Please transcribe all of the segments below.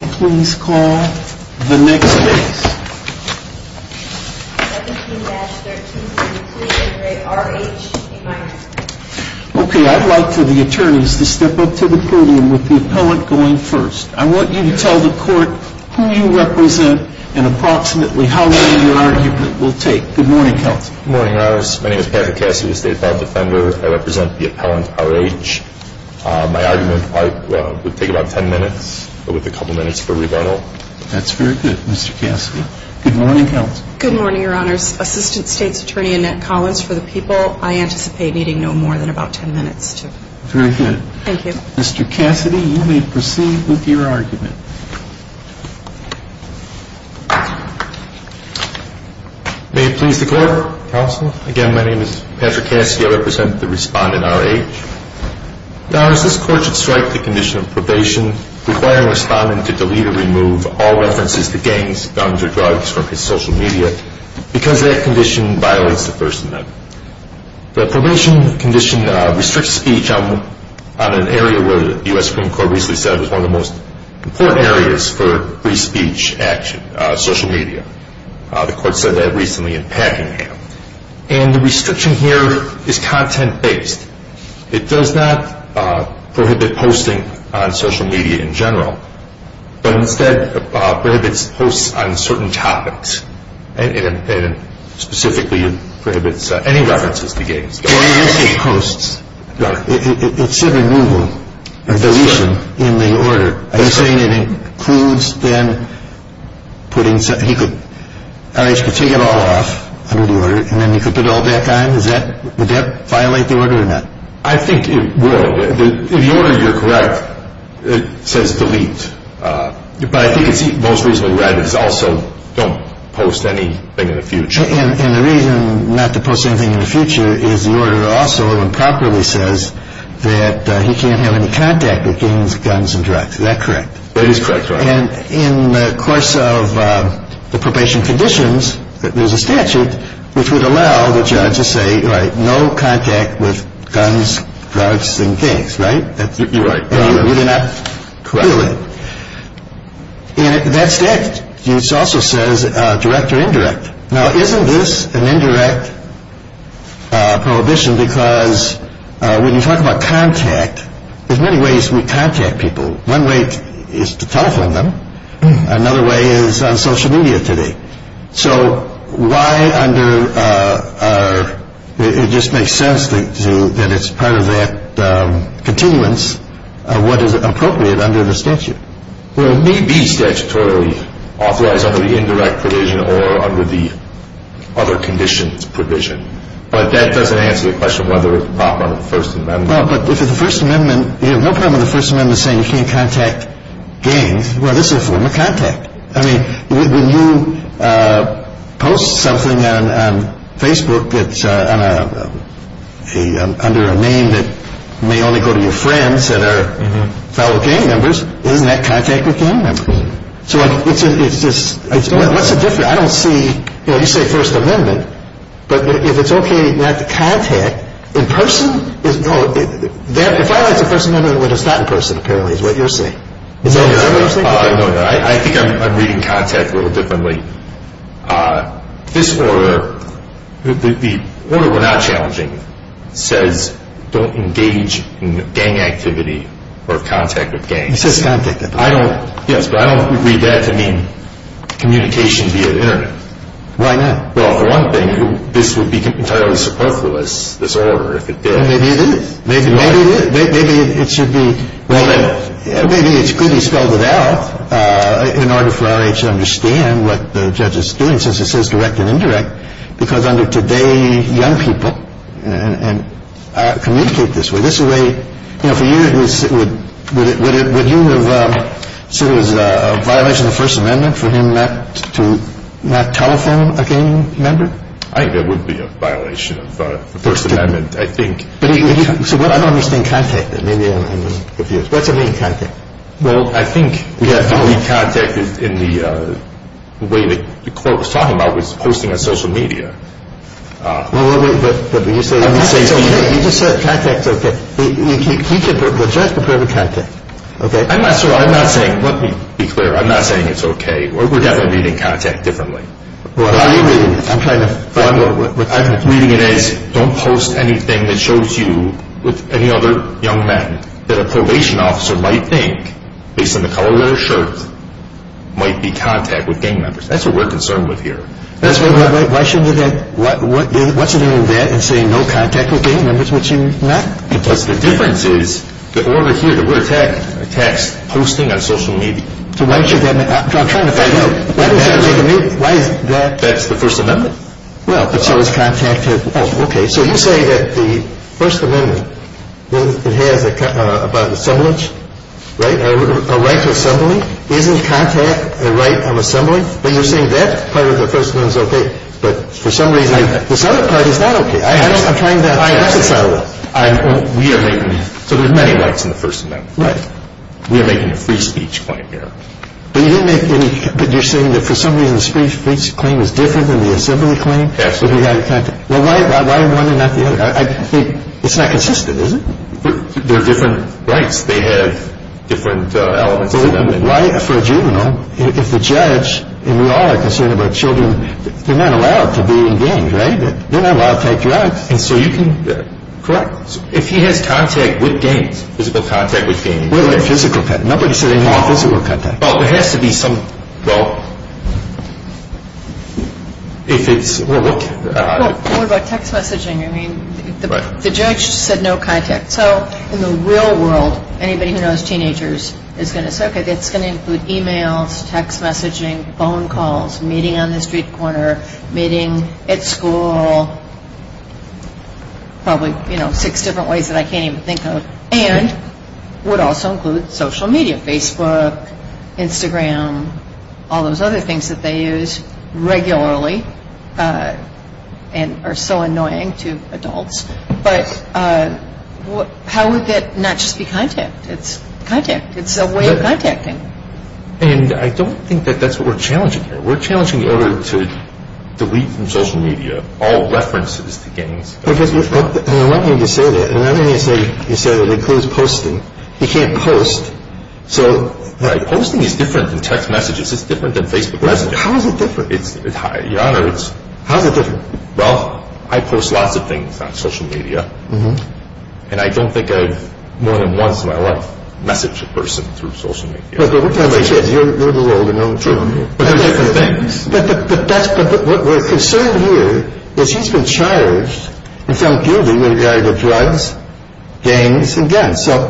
I want you to tell the court who you represent and approximately how long your argument will take. Good morning, counsel. Good morning, Your Honor. My name is Patrick Cassidy with the State File Defender. I represent the appellant, R.H. My argument will take about ten minutes with a couple minutes for rebuttal. That's very good, Mr. Cassidy. Good morning, counsel. Good morning, Your Honor. Assistant State's Attorney Annette Collins. For the people, I anticipate needing no more than about ten minutes. Very good. Thank you. Mr. Cassidy, you may proceed with your argument. May it please the court. Counsel, again, my name is Patrick Cassidy. I represent the respondent, R.H. Your Honor, this court should strike the condition of probation requiring the respondent to delete or remove all references to gangs, guns, or drugs from his social media because that condition violates the First Amendment. The probation condition restricts speech on an area where the U.S. Supreme Court recently said was one of the most important areas for free speech action, social media. The court said that recently in Packingham. And the restriction here is content-based. It does not prohibit posting on social media in general, but instead prohibits posts on certain topics, and specifically prohibits any references to gangs, guns, or drugs. Well, you didn't say posts. Your Honor. It said removal. I'm sorry. Deletion in the order. I'm saying it includes, then, putting some – he could – R.H. could take it all off. Under the order. And then he could put it all back on? Is that – would that violate the order or not? I think it will. If the order, you're correct, it says delete. But I think it's most reasonably read as also don't post anything in the future. And the reason not to post anything in the future is the order also improperly says that he can't have any contact with gangs, guns, and drugs. Is that correct? That is correct, Your Honor. And in the course of the probation conditions, there's a statute which would allow the judge to say, you're right, no contact with guns, drugs, and gangs, right? You're right. You're not – Correct. And that statute also says direct or indirect. Now, isn't this an indirect prohibition? Because when you talk about contact, there's many ways we contact people. One way is to telephone them. Another way is on social media today. So why under – it just makes sense that it's part of that continuance of what is appropriate under the statute. Well, it may be statutorily authorized under the indirect provision or under the other conditions provision. But that doesn't answer the question of whether it's improper under the First Amendment. Well, but if it's the First Amendment, you have no problem with the First Amendment saying you can't contact gangs. Well, this is a form of contact. I mean, when you post something on Facebook that's under a name that may only go to your friends that are fellow gang members, isn't that contact with gang members? So it's just – what's the difference? I don't see – you say First Amendment. But if it's okay not to contact, in person – no, if I write to First Amendment when it's not in person, apparently, is what you're saying. Is that what you're saying? No, no. I think I'm reading contact a little differently. This order, the order we're not challenging, says don't engage in gang activity or contact with gangs. It says contact. Yes, but I don't read that to mean communication via the Internet. Why not? Well, for one thing, this would be entirely superfluous, this order, if it did. Maybe it is. Maybe it is. Maybe it should be – well, maybe it's good he spelled it out in order for R.H. to understand what the judge is doing, since it says direct and indirect, because under today, young people communicate this way. This is a way – you know, for you, would you have seen it as a violation of the First Amendment for him not to telephone a gang member? I think that would be a violation of the First Amendment. I think – But he – so what – I don't understand contact. Maybe I'm confused. What's it mean, contact? Well, I think we have to read contact in the way the court was talking about, which is posting on social media. Well, but you say – I'm not saying it's okay. You just said contact's okay. The judge prepared the contact. Okay? I'm not – I'm not saying – let me be clear. I'm not saying it's okay. Or we're definitely reading contact differently. Well, how are you reading it? I'm trying to find out what – What I'm reading it as, don't post anything that shows you, with any other young men, that a probation officer might think, based on the color of their shirt, might be in contact with gang members. That's what we're concerned with here. That's what – Wait, wait, wait. Why shouldn't it – what's the difference between that and saying no contact with gang members, which you're not – Because the difference is, the order here, the word text, posting on social media. So why should that – I'm trying to find out. Why is that – That's the First Amendment. Well, but so is contact. Oh, okay. So you say that the First Amendment, it has a – about assemblage, right? A right to assembly. Isn't contact a right of assembly? But you're saying that part of the First Amendment's okay. But for some reason, this other part is not okay. I'm trying to – I am. I am. So there's many rights in the First Amendment. Right. We are making a free speech claim here. But you didn't make any – but you're saying that for some reason, the free speech claim is different than the assembly claim? Absolutely. Well, why one and not the other? I think it's not consistent, is it? There are different rights. They have different elements of the Amendment. But why – for a juvenile, if the judge – and we all are concerned about children – they're not allowed to be in gangs, right? They're not allowed to take drugs. And so you can – Correct. If he has contact with gangs, physical contact with gangs – Physical contact. Nobody said any more physical contact. Well, there has to be some – well, if it's – well, look – Well, what about text messaging? I mean, the judge said no contact. So in the real world, anybody who knows teenagers is going to say, okay, that's going to include emails, text messaging, phone calls, meeting on the street corner, meeting at school, probably, you know, six different ways that I can't even think of, and would also include social media – Facebook, Instagram, all those other things that they use regularly and are so annoying to adults. But how would that not just be contact? It's contact. It's a way of contacting. And I don't think that that's what we're challenging here. We're challenging in order to delete from social media all references to gangs. And I want you to say that. And I want you to say that it includes posting. He can't post. So – Right. Posting is different than text messages. It's different than Facebook messaging. How is it different? Your Honor, it's – How is it different? Well, I post lots of things on social media, and I don't think I've more than once in my life messaged a person through social media. But what time of day is it? You're a little older. No, I'm joking. But they're different things. But that's – what we're concerned here is he's been charged with some guilty with regard to drugs, gangs, and guns. So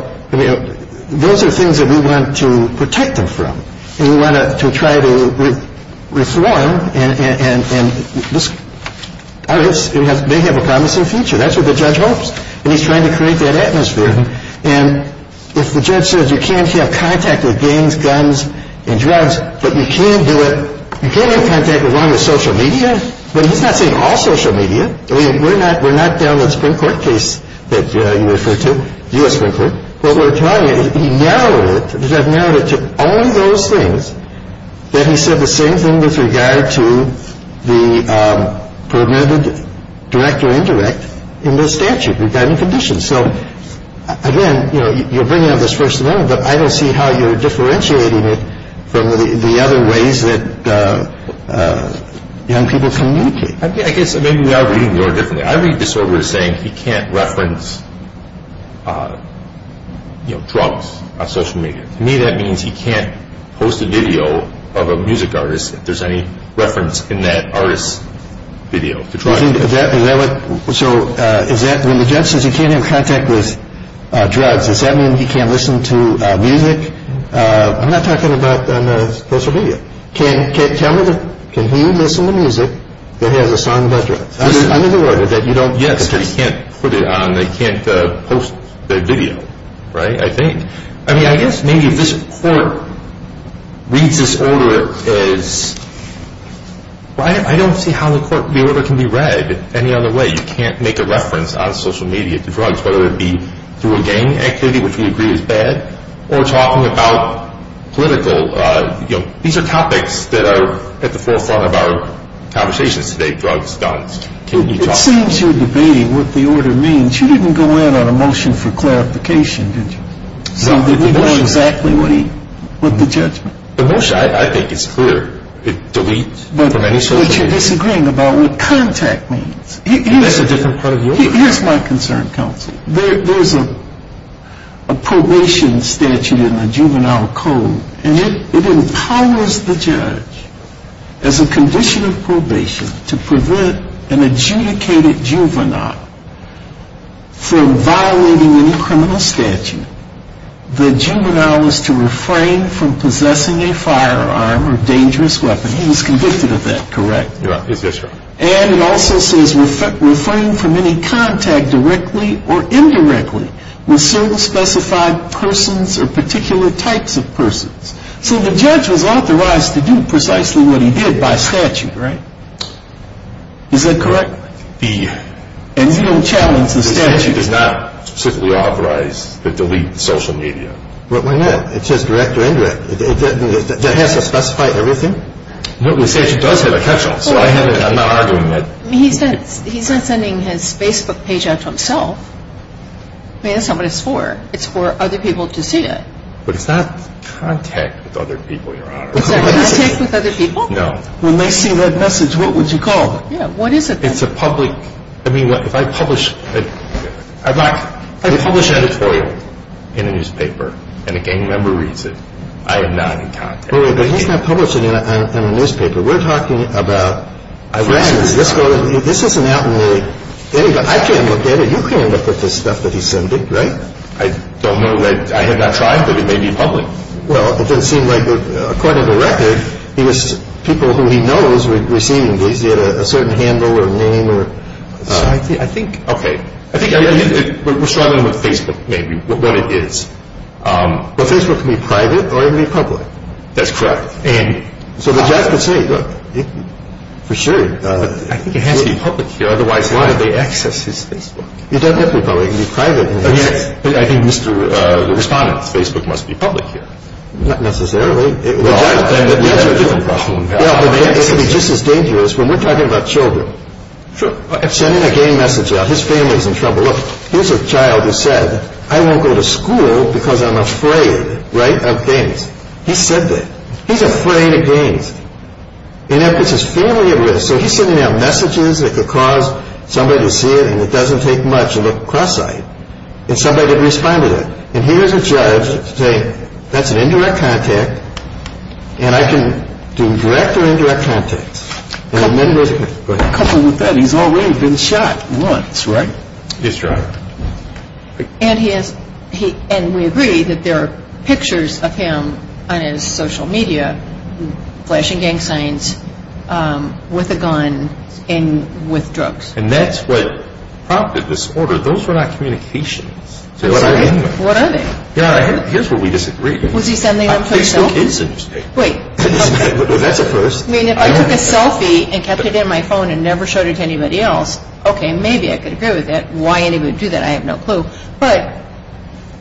those are things that we want to protect him from. And we want to try to reform. And this may have a promising future. That's what the judge hopes. And he's trying to create that atmosphere. And if the judge says you can't have contact with gangs, guns, and drugs, but you can do You can't have contact with one of the social media. But he's not saying all social media. I mean, we're not down the Supreme Court case that you refer to, U.S. Supreme Court. What we're trying – he narrowed it, the judge narrowed it to only those things that he said the same thing with regard to the permitted direct or indirect in the statute regarding conditions. So, again, you know, you're bringing up this first amendment, but I don't see how you're differentiating it from the other ways that young people communicate. I guess maybe we are reading the order differently. I read this order as saying he can't reference, you know, drugs on social media. To me, that means he can't post a video of a music artist if there's any reference in that artist's video. Is that what – so is that – when the judge says he can't have contact with drugs, does that mean he can't listen to music? I'm not talking about on social media. Can he listen to music that has a song about drugs? Under the order that you don't – Yes, because he can't put it on, they can't post the video, right, I think. I mean, I guess maybe if this court reads this order as – I don't see how the order can be read any other way. You can't make a reference on social media to drugs, whether it be through a gang activity, which we agree is bad, or talking about political – you know, these are topics that are at the forefront of our conversations today, drugs, guns, can you talk – It seems you're debating what the order means. You didn't go in on a motion for clarification, did you? So they didn't know exactly what the judgment – The motion, I think, is clear. It deletes from any social media – But you're disagreeing about what contact means. That's a different part of the order. Here's my concern, counsel. There's a probation statute in the juvenile code, and it empowers the judge, as a condition of probation, to prevent an adjudicated juvenile from violating any criminal statute the juvenile is to refrain from possessing a firearm or dangerous weapon. He was convicted of that, correct? Yes, that's right. And it also says refrain from any contact directly or indirectly with certain specified persons or particular types of persons. So the judge was authorized to do precisely what he did by statute, right? Is that correct? The – And you don't challenge the statute? The statute does not specifically authorize the delete of social media. But why not? It says direct or indirect. That has to specify everything? No, the statute does have a catch-all. So I'm not arguing that – He's not sending his Facebook page out to himself. I mean, that's not what it's for. It's for other people to see it. But it's not contact with other people, Your Honor. It's not contact with other people? No. When they see that message, what would you call it? Yeah, what is it then? It's a public – I mean, if I publish – I publish an editorial in a newspaper, and a gang member reads it, I am not in contact. But he's not publishing it in a newspaper. We're talking about – Friends. This isn't out in the – I can't look at it. You can't look at the stuff that he's sending, right? I don't know. I have not tried, but it may be public. Well, it doesn't seem like – according to record, people who he knows were receiving these, they had a certain handle or name or – I think – Okay. I think – We're struggling with Facebook, maybe, what it is. But Facebook can be private or it can be public. That's correct. So the judge could say, look, for sure – I think it has to be public here. Otherwise, why would they access his Facebook? It doesn't have to be public. It can be private. Yes. But I think Mr. Respondent's Facebook must be public here. Not necessarily. Well, that's a different problem. Yeah, but they have to be just as dangerous. When we're talking about children. Sure. I'm sending a gang message out. His family's in trouble. Look, here's a child who said, I won't go to school because I'm afraid, right, of gangs. He said that. He's afraid of gangs. And if it's his family at risk – so he's sending out messages that could cause somebody to see it and it doesn't take much. Look, cross-site. And somebody could respond to that. And here's a judge saying, that's an indirect contact. And I can do direct or indirect contact. Couple with that, he's already been shot once, right? That's right. And we agree that there are pictures of him on his social media flashing gang signs with a gun and with drugs. And that's what prompted this order. Those were not communications. What are they? Here's what we disagree with. Was he sending them to his cell? I think so. Wait. That's a first. I mean, if I took a selfie and kept it in my phone and never showed it to anybody else, okay, maybe I could agree with that. Why anybody would do that, I have no clue. But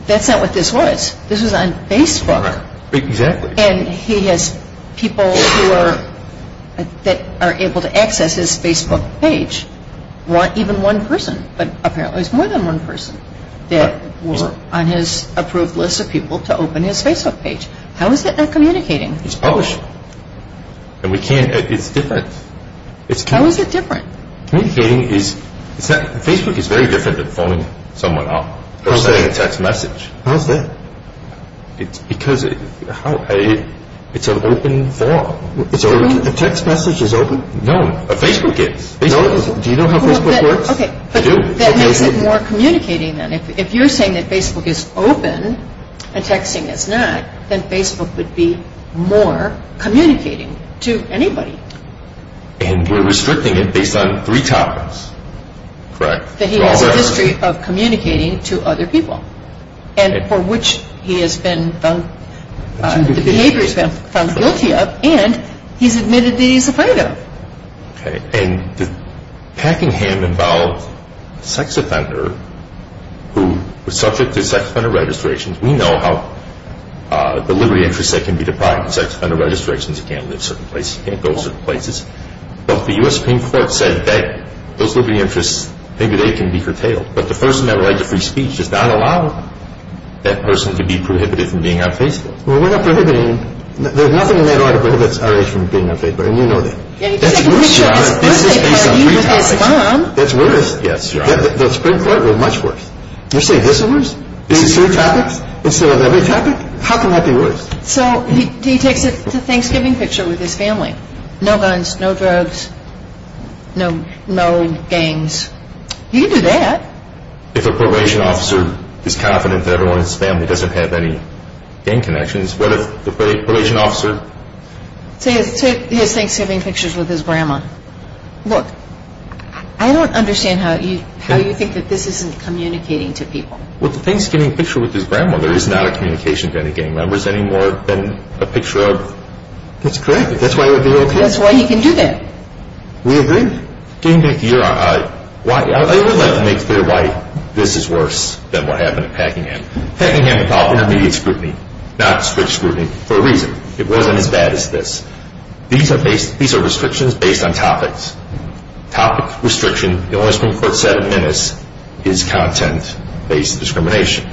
that's not what this was. This was on Facebook. Exactly. And he has people that are able to access his Facebook page. Even one person. But apparently it was more than one person that was on his approved list of people to open his Facebook page. How is that not communicating? It's publishing. And we can't – it's different. How is it different? Communicating is – Facebook is very different than phoning someone up. How is that? Or sending a text message. How is that? Because it's an open form. A text message is open? No. Facebook is. Do you know how Facebook works? Okay. But that makes it more communicating then. If you're saying that Facebook is open and texting is not, then Facebook would be more communicating to anybody. And we're restricting it based on three topics. Correct. That he has a history of communicating to other people. And for which he has been found – the behavior he's been found guilty of, and he's admitted that he's afraid of. Okay. And the packingham involved a sex offender who was subject to sex offender registrations. We know how the liberty interest set can be deprived of sex offender registrations. He can't live a certain place. He can't go certain places. But the U.S. Supreme Court said that those liberty interests, maybe they can be curtailed. But the person that would write the free speech does not allow that person to be prohibited from being on Facebook. Well, we're not prohibiting him. There's nothing in that article that prohibits R.A. from being on Facebook. And you know that. That's worse, John. This is based on three topics. That's worse. Yes, John. The Supreme Court was much worse. You're saying this is worse? These are three topics? Instead of every topic? How can that be worse? So he takes a Thanksgiving picture with his family. No guns, no drugs, no gangs. He can do that. If a probation officer is confident that everyone in his family doesn't have any gang connections, what if the probation officer... Say he has Thanksgiving pictures with his grandma. Look, I don't understand how you think that this isn't communicating to people. Well, the Thanksgiving picture with his grandmother is not a communication to any gang members anymore than a picture of... That's correct. That's why he would be OK. That's why he can do that. We agree. Getting back to your... I would like to make clear why this is worse than what happened at Packingham. Packingham involved intermediate scrutiny, not strict scrutiny, for a reason. It wasn't as bad as this. These are restrictions based on topics. Topic restriction, the only Supreme Court said in minutes, is content-based discrimination.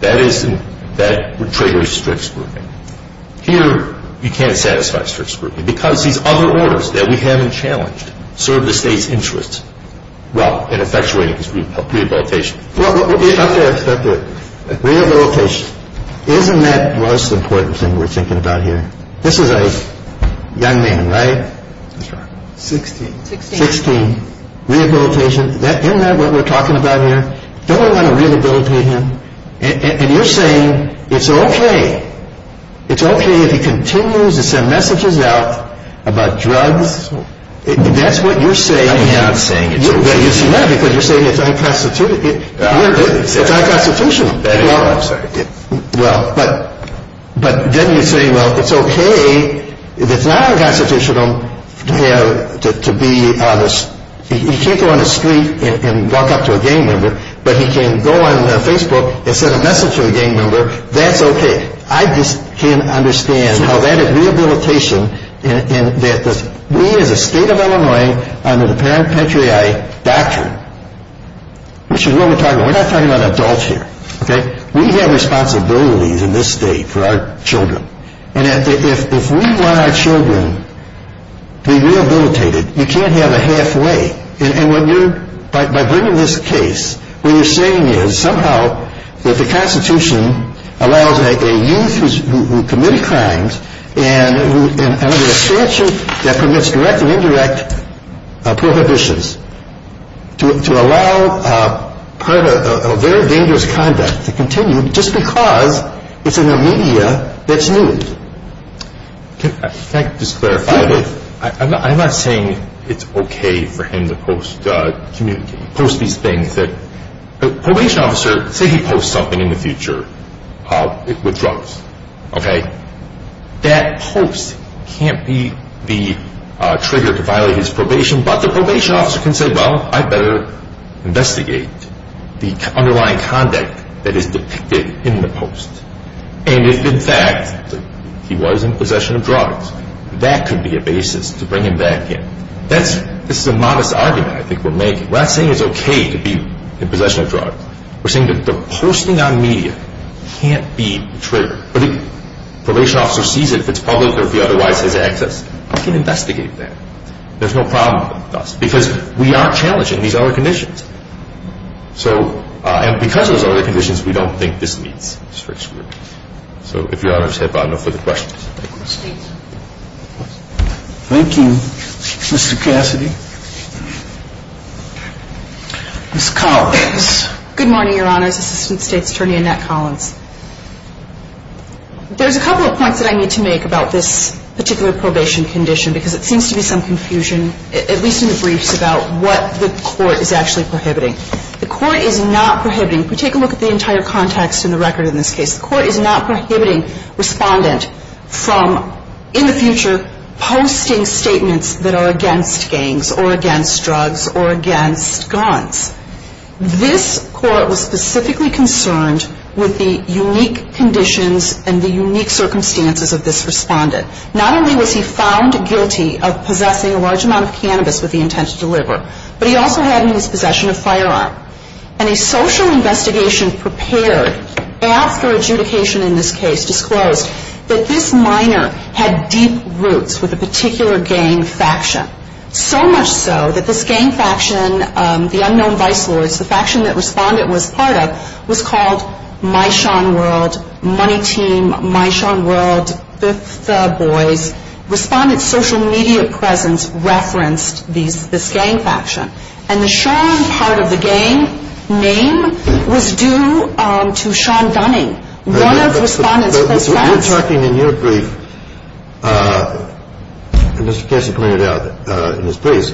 That triggers strict scrutiny. Here, you can't satisfy strict scrutiny, because these other orders that we haven't challenged serve the state's interests well in effectuating rehabilitation. Rehabilitation. Isn't that the most important thing we're thinking about here? This is a young man, right? That's right. 16. 16. Rehabilitation. Isn't that what we're talking about here? Don't we want to rehabilitate him? And you're saying it's OK. It's OK if he continues to send messages out about drugs. That's what you're saying. I'm not saying it's OK. You're saying that because you're saying it's unconstitutional. I didn't say that. It's unconstitutional. I'm sorry. But then you say, well, it's OK if it's not unconstitutional to be honest. He can't go on the street and walk up to a gang member, but he can go on Facebook and send a message to a gang member. That's OK. I just can't understand how that is rehabilitation, and that we as a state of Illinois, under the parent-patriarch doctrine, which is what we're talking about. We're not talking about adults here. We have responsibilities in this state for our children. And if we want our children to be rehabilitated, you can't have a halfway. And by bringing this case, what you're saying is somehow that the Constitution allows a youth who committed crimes and under a statute that permits direct and indirect prohibitions to allow a very dangerous conduct to continue just because it's in a media that's new. Can I just clarify this? I'm not saying it's OK for him to post these things. A probation officer, say he posts something in the future with drugs. That post can't be the trigger to violate his probation, but the probation officer can say, well, I'd better investigate the underlying conduct that is depicted in the post. And if, in fact, he was in possession of drugs, that could be a basis to bring him back in. This is a modest argument I think we're making. We're not saying it's OK to be in possession of drugs. We're saying that the posting on media can't be the trigger. But if the probation officer sees it, if it's public or if he otherwise has access, he can investigate that. There's no problem with that. Because we are challenging these other conditions. And because of those other conditions, we don't think this meets strict scrutiny. So, if Your Honors have no further questions. Thank you, Mr. Cassidy. Ms. Collins. Good morning, Your Honors. Assistant State's Attorney Annette Collins. There's a couple of points that I need to make about this particular probation condition, because it seems to be some confusion, at least in the briefs, about what the court is actually prohibiting. The court is not prohibiting, if we take a look at the entire context in the record in this case, the court is not prohibiting respondent from, in the future, posting statements that are against gangs or against drugs or against guns. This court was specifically concerned with the unique conditions and the unique circumstances of this respondent. Not only was he found guilty of possessing a large amount of cannabis with the intent to deliver, but he also had in his possession a firearm. And a social investigation prepared after adjudication in this case disclosed that this minor had deep roots with a particular gang faction. So much so that this gang faction, the unknown vice lords, the faction that respondent was part of, was called My Sean World, Money Team, My Sean World, Fifth Boys. Respondent's social media presence referenced this gang faction. And the Sean part of the gang name was due to Sean Dunning, one of respondent's close friends. You're talking in your brief, as Mr. Kessler pointed out in his brief,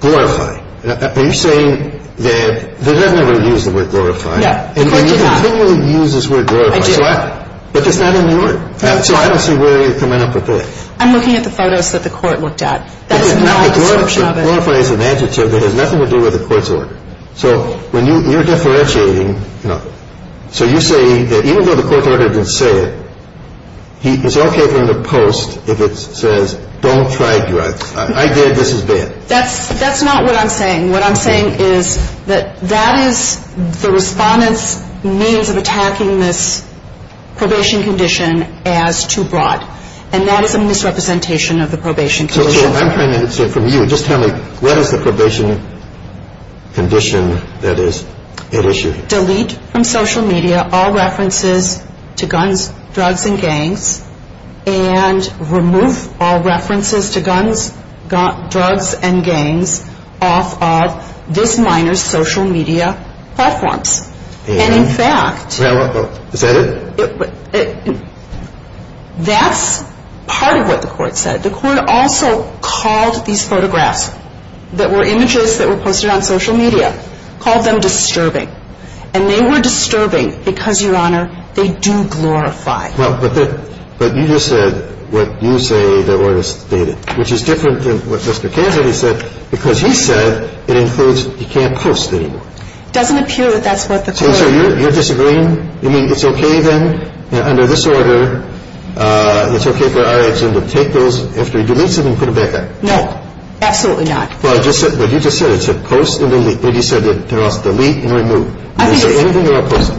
glorify. Are you saying that, they've never used the word glorify. The court did not. And you continually use this word glorify. I do. But it's not in the order. So I don't see where you're coming up with this. I'm looking at the photos that the court looked at. That's not a disruption of it. That glorify is an adjective that has nothing to do with the court's order. So when you're differentiating, so you say, even though the court order didn't say it, it's okay to end a post if it says, don't try drugs. I dare this is bad. That's not what I'm saying. What I'm saying is that, that is the respondent's means of attacking this probation condition as too broad. And that is a misrepresentation of the probation condition. So I'm trying to answer from you. Can you just tell me, what is the probation condition that is at issue? Delete from social media all references to guns, drugs, and gangs, and remove all references to guns, drugs, and gangs off of this minor's social media platforms. And in fact... Is that it? That's part of what the court said. The court also called these photographs, that were images that were posted on social media, called them disturbing. And they were disturbing because, Your Honor, they do glorify. But you just said what you say the order stated, which is different than what Mr. Cassidy said, because he said, it includes, you can't post anymore. It doesn't appear that that's what the court... So you're disagreeing? You mean it's okay then, under this order, it's okay for our agency to delete something and put it back up? No. Absolutely not. But you just said, post and delete. You said, delete and remove. Is there anything you're not posting?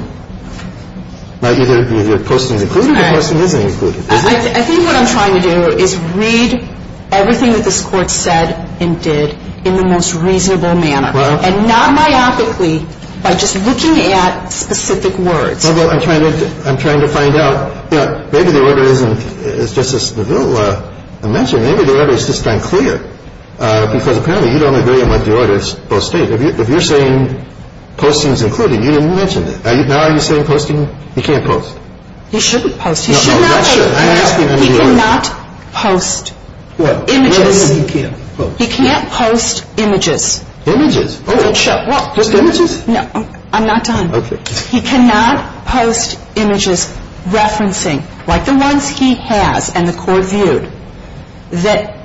You're posting is included, but posting isn't included. I think what I'm trying to do is read everything that this court said, and did, in the most reasonable manner. And not myopically, by just looking at specific words. I'm trying to find out, maybe the order isn't, as Justice DeVille mentioned, maybe the order is just unclear. Because apparently, you don't agree with what the order stated. If you're saying, posting is included, you didn't mention that. Now you're saying, posting, you can't post. He shouldn't post. He should not post. He cannot post. What? Images. He can't post images. Images? Just images? No. I'm not done. He cannot post images, referencing, like the ones he has, and the court viewed, that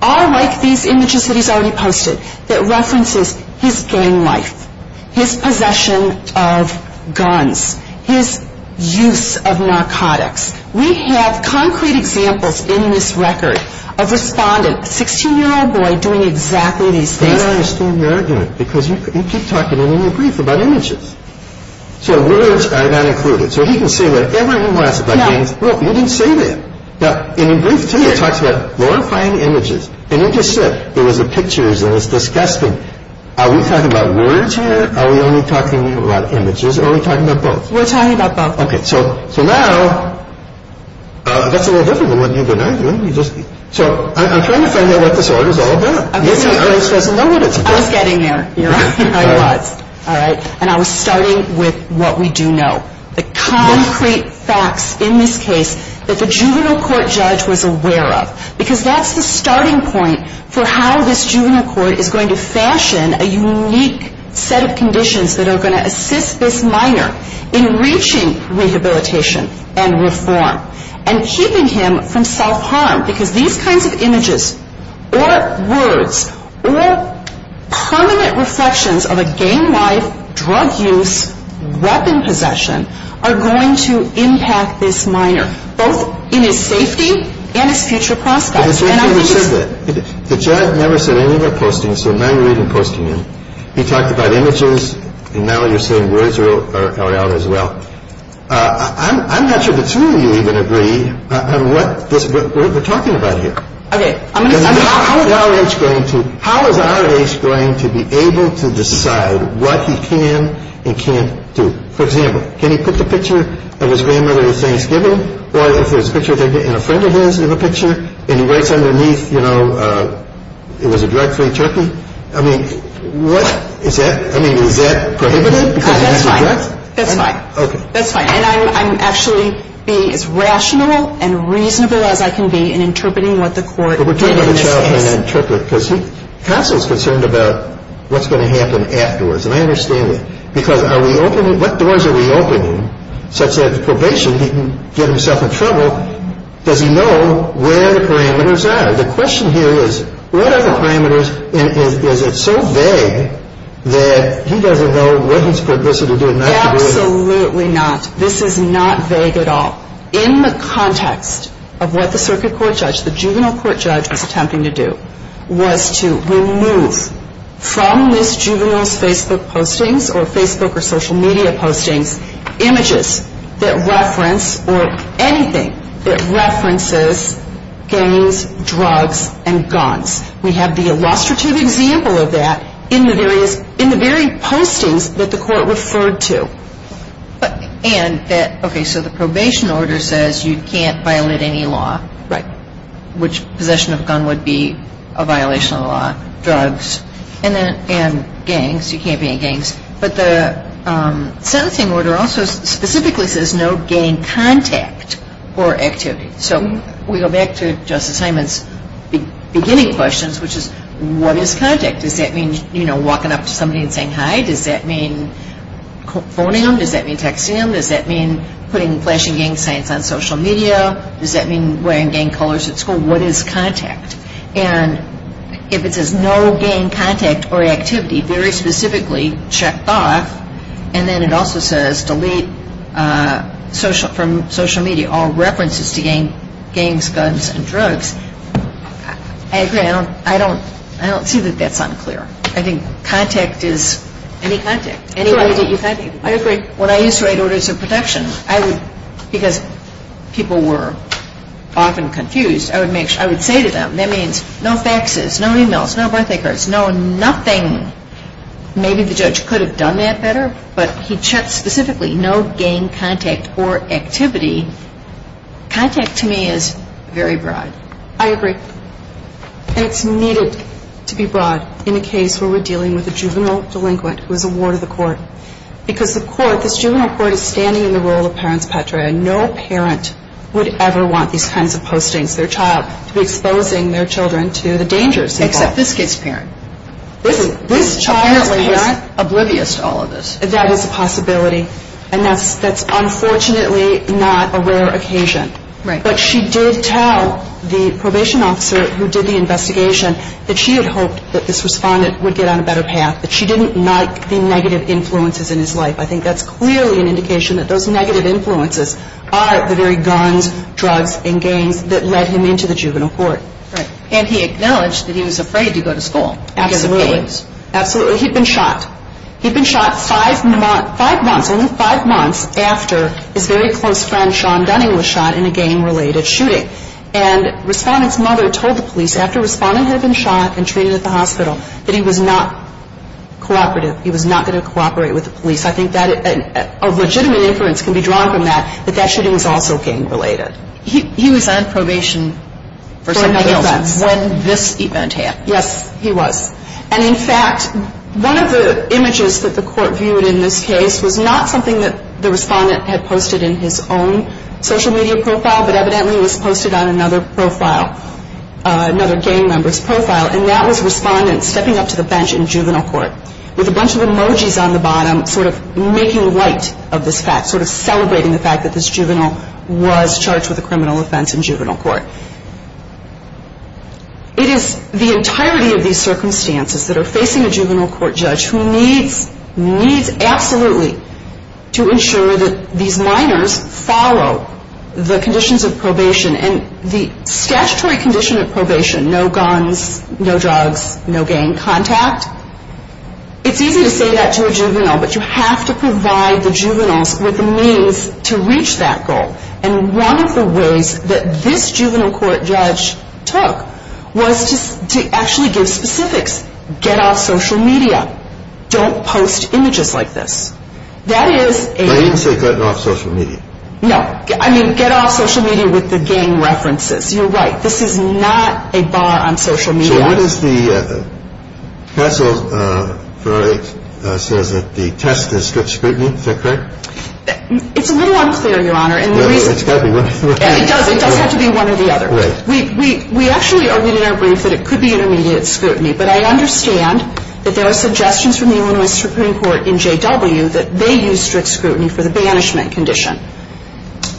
are like these images that he's already posted, that references his gang life, his possession of guns, his use of narcotics. We have concrete examples in this record, of a respondent, a 16-year-old boy, doing exactly these things. I don't understand your argument. Because you keep talking in your brief about images. So words are not included. So he can say whatever he wants about gangs. No. You didn't say that. In your brief too, it talks about glorifying images. And you just said, it was the pictures, and it was disgusting. Are we talking about words here? Are we only talking about images? Or are we talking about both? We're talking about both. Okay. So now, that's a little difficult, what you've been arguing. So, I'm trying to figure out what this order's all about. Okay. I was getting there. You're right. I was. Alright. And I was starting with what we do know. The concrete facts in this case that the juvenile court judge was aware of. Because that's the starting point for how this juvenile court is going to fashion a unique set of conditions that are going to assist this minor in reaching rehabilitation and reform. And keeping him from self-harm. Because these kinds of images, this minor's life. So, I'm trying to figure out what this order's all about. Okay. And I was getting there. You're right. I was getting there. So, the juvenile court judge was aware of was going to assist this minor. Both in his safety and his future prospects. And I think he's... But this judge never said that. The judge never said any of the postings. So none of you are even posting them. He talked about images. And now you're saying words are out as well. I'm not sure the two of you even agree on what we're talking about here. Okay. with you. How is our age going to be able to decide what he can and can't do? For example, can he put the picture of his grandmother at Thanksgiving? Or if there's a picture and a friend of his in the picture and he writes underneath you know it was a drug-free turkey? I mean what? Is that? I mean is that prohibited? That's fine. That's fine. That's fine. And I'm actually being as rational and reasonable as I can be in interpreting what the court did in this case. But we're talking about a child being an interpreter because he's constantly concerned about what's going to happen afterwards. And I understand that. Because are we opening? What doors are we opening such that probation he can get himself in trouble? Does he know where the parameters are? The question here is what are the parameters and is it so vague that he doesn't know what he's supposed to do? Absolutely not. This is not vague at all. In the context of what the circuit court judge the juvenile court judge was attempting to do was to remove from this juvenile's Facebook postings or Facebook or social media postings images that reference or anything that references games, drugs, and guns. We have the illustrative example of that in the various in the very postings that the court referred to. Okay. So the probation order says you can't violate any law. Right. Which possession of a gun would be a violation of the law. Drugs and gangs. You can't be in gangs. But the sentencing order also specifically says no gang contact or activity. So we go back to Justice Hyman's beginning questions which is what is contact? Does that mean, you know, walking up to somebody and saying hi? Does that mean phoning them? Does that mean texting them? Does that mean putting flashing gang signs on social media? Does that mean wearing gang colors at school? What is contact? And if it says no gang contact or activity very specifically checked off and then it also says delete from social media all references to gangs, guns, and drugs, I agree. I don't see that that's unclear. I think contact is any contact. I agree. When I used to write orders of protection, because people were often confused, I would say to them, that means no faxes, no e-mails, no birthday cards, no nothing. Maybe the judge could have done that better, but he checked specifically no gang contact or activity. Contact to me is very broad. I agree. And it's needed to be broad in a case where we're dealing with a juvenile delinquent who is a ward of the court. Because the court, this juvenile court is standing in the role of parents patria and no parent would ever want these kinds of postings, their child, to be exposing their child to these kinds of things. And that's a possibility. And that's unfortunately not a rare occasion. But she did tell the probation officer who did the investigation that she had hoped that this respondent would get on a better path, that she didn't like the negative influences in his life. I think that's clearly an indication that those negative influences are the very guns, drugs, and gangs that led him into the juvenile court. And he acknowledged that he was afraid to go to school. Absolutely. He'd been shot. He'd been shot five months, only five months after his very close friend was shot in a gang-related shooting. And respondent's mother told the police after respondent had been shot and treated at the hospital that he was not cooperative, he was not going to cooperate with the police. I think that a legitimate inference can be drawn from that, that that shooting was also gang related. He was on probation for a criminal offense when this event happened. Yes, he was. And in fact, one of the images that the court viewed in this case was not something that the respondent had posted in his own social media profile, but evidently was posted on another profile, another gang member's profile, and that was respondent stepping up to the bench in juvenile court with a bunch of emojis on the bottom sort of making light of this fact, sort of celebrating the fact that this juvenile was charged with a criminal offense in juvenile court. It is the entirety of these circumstances that are facing a juvenile court judge who needs, needs absolutely to ensure that these minors follow the conditions of probation and the statutory condition of probation, no guns, no drugs, no gang contact, it's easy to say that to a juvenile, but you have to provide the juveniles with the means to reach that goal, and one of the ways that this juvenile court judge took was to actually give specifics. Get off social media. Don't post images like this. That is a I didn't say cut off social media. No. I mean, get off social media with the gang references. You're right. This is not a bar on social media. So what is the, the test and scrutiny, is that correct? It's a little unclear, Your Honor. It does have to be one or the other. We actually argued in our brief that it could be intermediate scrutiny, but I understand that there are suggestions from the Illinois Supreme Court in J.W. that they use strict scrutiny for the banishment condition.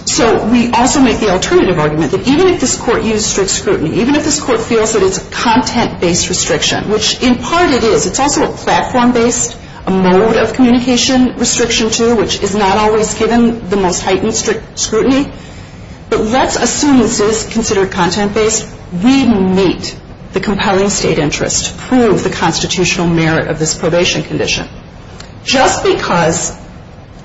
So we also make the alternative argument that even if this court used strict scrutiny, even if this court feels that it's a content-based restriction, which in this case is a platform-based mode of communication restriction too, which is not always given the most heightened scrutiny, but let's assume it's considered content-based, we meet the compelling state interest to prove the constitutional merit of this probation condition. Just because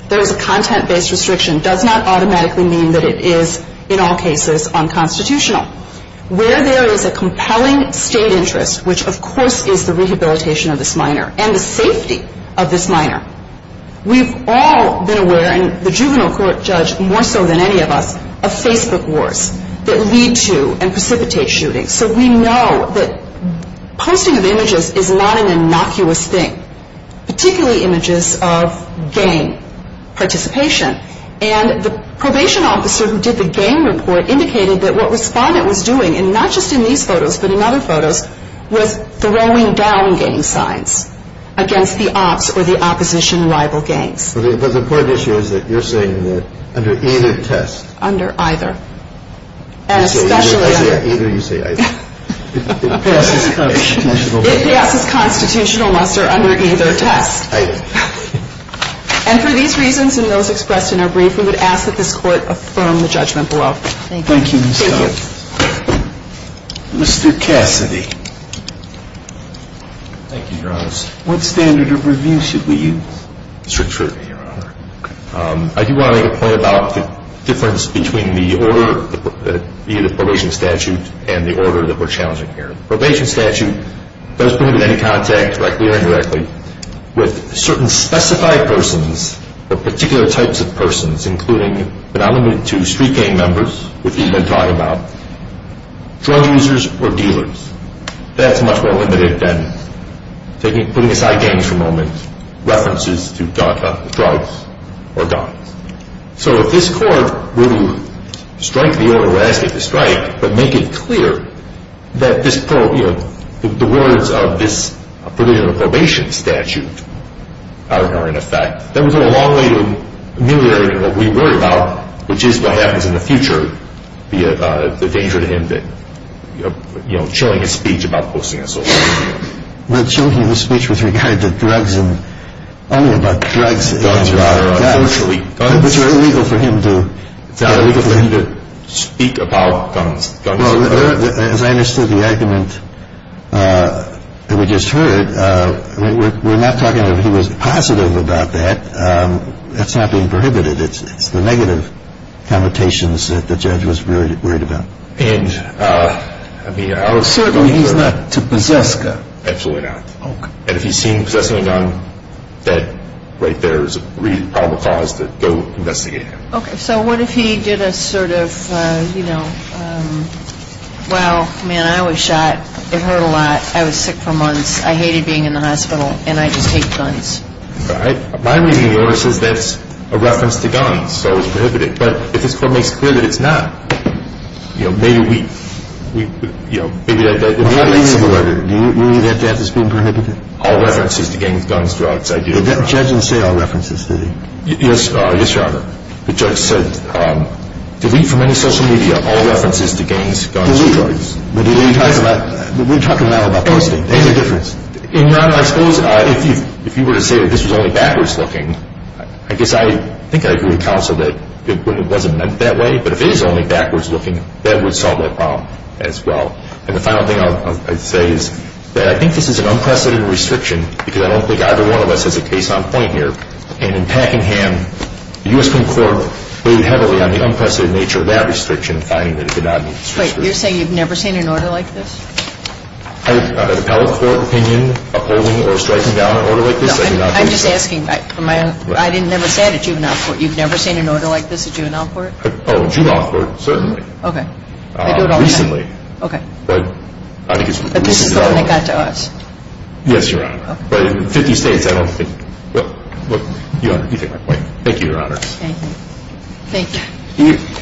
there is a content-based restriction does not automatically mean that it is in all cases unconstitutional. Where there is a compelling state interest, which of course is the rehabilitation of this minor and the safety of this minor, we've all been aware, and the juvenile court judge more so than any of us, of Facebook wars that lead to and precipitate shootings. So we know that posting of these photos and the game report indicated that what the respondent was doing was throwing down game signs against the opposition rival gangs. The important issue is that you're saying that there is a conflict between order and the order that we're challenging here. The probation statute does provide any contact with certain specified persons or particular types of people in this situation. So this court will strike the order we're asking to strike but make it clear that the words of this provision of probation statute are in effect. That is the purpose order we're asking to strike but make it clear that the words of this provision of probation statute are in effect. That is we're the words of this provision of probation statute are in effect. That is the purpose order we're asking to strike but make it That is the purpose order we're asking to strike but make it clear that the words of this provision of probation statute are in effect. That is the to make it clear that the words of this provision of probation statute are in effect. That is the purpose order we're asking to but make it clear that of probation statute are in effect. That is the purpose order we're asking to strike but make it clear that the words of this provision of That is the purpose asking to strike but make it clear that the words of this provision of probation statute are in effect. That is the purpose order make it this provision of probation statute are in effect. That is the purpose we're asking to strike but make it clear that the words of this of probation statute are in purpose strike but make it clear that the words of this provision of probation statute are in effect. That is the purpose we're probation statute are in effect. That is the purpose we're asking to strike but make it clear that the words of this provision